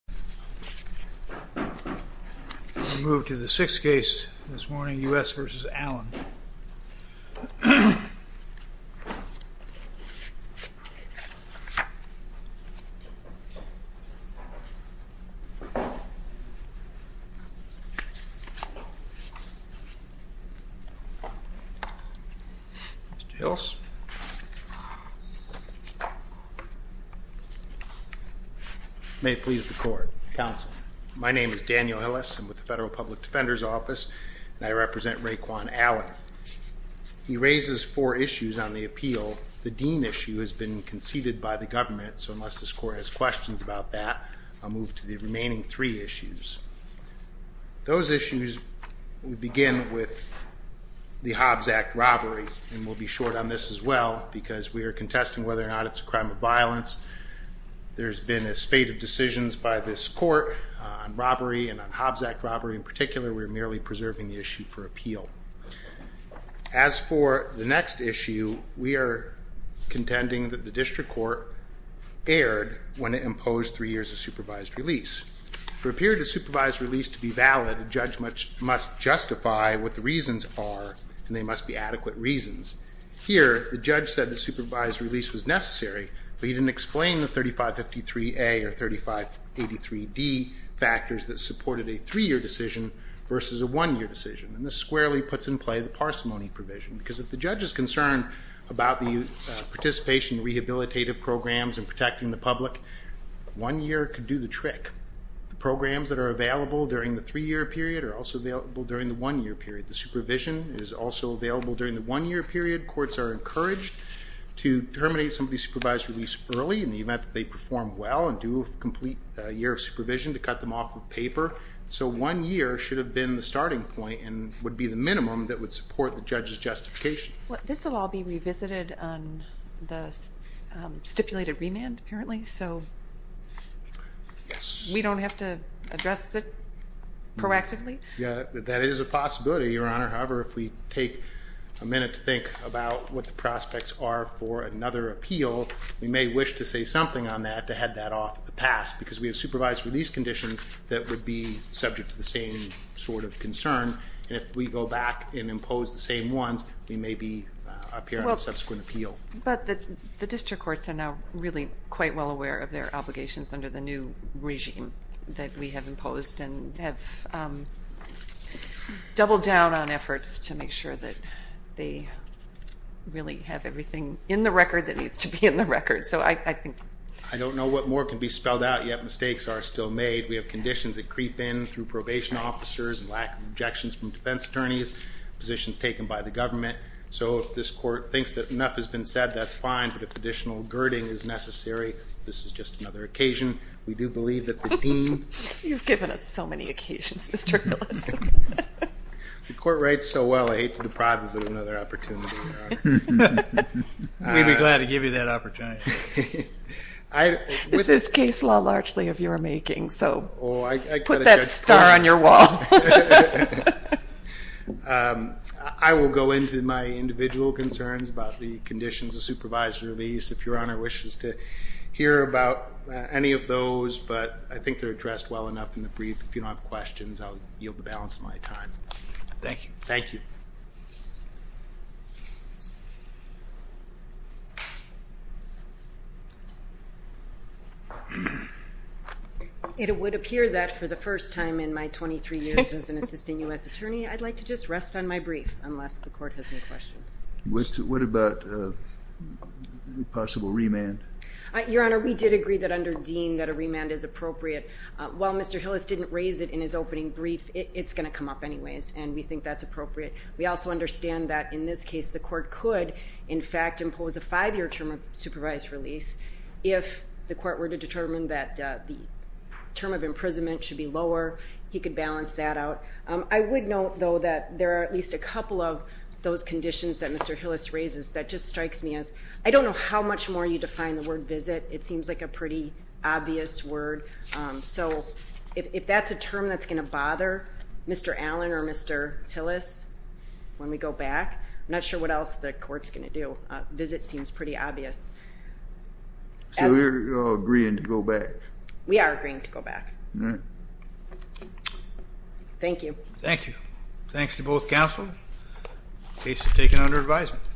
We'll move to the sixth case this morning, U.S. v. Allen. Mr. Hills. May it please the Court. Counsel. My name is Daniel Hillis. I'm with the Federal Public Defender's Office, and I represent Raequon Allen. He raises four issues on the appeal. The Dean issue has been conceded by the government, so unless this Court has questions about that, I'll move to the remaining three issues. Those issues begin with the Hobbs Act robbery, and we'll be short on this as well because we are contesting whether or not it's a crime of violence. There's been a spate of decisions by this Court on robbery and on Hobbs Act robbery in particular. We're merely preserving the issue for appeal. As for the next issue, we are contending that the district court erred when it imposed three years of supervised release. For a period of supervised release to be valid, a judge must justify what the reasons are, and they must be adequate reasons. Here, the judge said the supervised release was necessary, but he didn't explain the 3553A or 3583D factors that supported a three-year decision versus a one-year decision. And this squarely puts in play the parsimony provision, because if the judge is concerned about the participation in rehabilitative programs and protecting the public, one year could do the trick. The programs that are available during the three-year period are also available during the one-year period. The supervision is also available during the one-year period. Courts are encouraged to terminate somebody's supervised release early in the event that they perform well and do a complete year of supervision to cut them off of paper. So one year should have been the starting point and would be the minimum that would support the judge's justification. Well, this will all be revisited on the stipulated remand, apparently, so we don't have to address it proactively? Yeah, that is a possibility, Your Honor. However, if we take a minute to think about what the prospects are for another appeal, we may wish to say something on that to head that off at the pass, because we have supervised release conditions that would be subject to the same sort of concern. And if we go back and impose the same ones, we may be up here on a subsequent appeal. But the district courts are now really quite well aware of their obligations under the new regime that we have imposed and have doubled down on efforts to make sure that they really have everything in the record that needs to be in the record. I don't know what more can be spelled out, yet mistakes are still made. We have conditions that creep in through probation officers and lack of objections from defense attorneys, positions taken by the government. So if this court thinks that enough has been said, that's fine, but if additional girding is necessary, this is just another occasion. We do believe that the team. You've given us so many occasions, Mr. Gillespie. The court writes so well, I hate to deprive you of another opportunity, Your Honor. We'd be glad to give you that opportunity. This is case law largely of your making, so put that star on your wall. I will go into my individual concerns about the conditions of supervised release. If Your Honor wishes to hear about any of those, but I think they're addressed well enough in the brief. If you don't have questions, I'll yield the balance of my time. Thank you. Thank you. It would appear that for the first time in my 23 years as an assistant U.S. attorney, I'd like to just rest on my brief, unless the court has any questions. What about a possible remand? Your Honor, we did agree that under Dean that a remand is appropriate. While Mr. Hillis didn't raise it in his opening brief, it's going to come up anyways, and we think that's appropriate. We also understand that in this case the court could, in fact, impose a five-year term of supervised release. If the court were to determine that the term of imprisonment should be lower, he could balance that out. I would note, though, that there are at least a couple of those conditions that Mr. Hillis raises that just strikes me as, I don't know how much more you define the word visit. It seems like a pretty obvious word. So if that's a term that's going to bother Mr. Allen or Mr. Hillis when we go back, I'm not sure what else the court's going to do. Visit seems pretty obvious. So you're agreeing to go back? We are agreeing to go back. All right. Thank you. Thank you. Thanks to both counsel. Case is taken under advisement.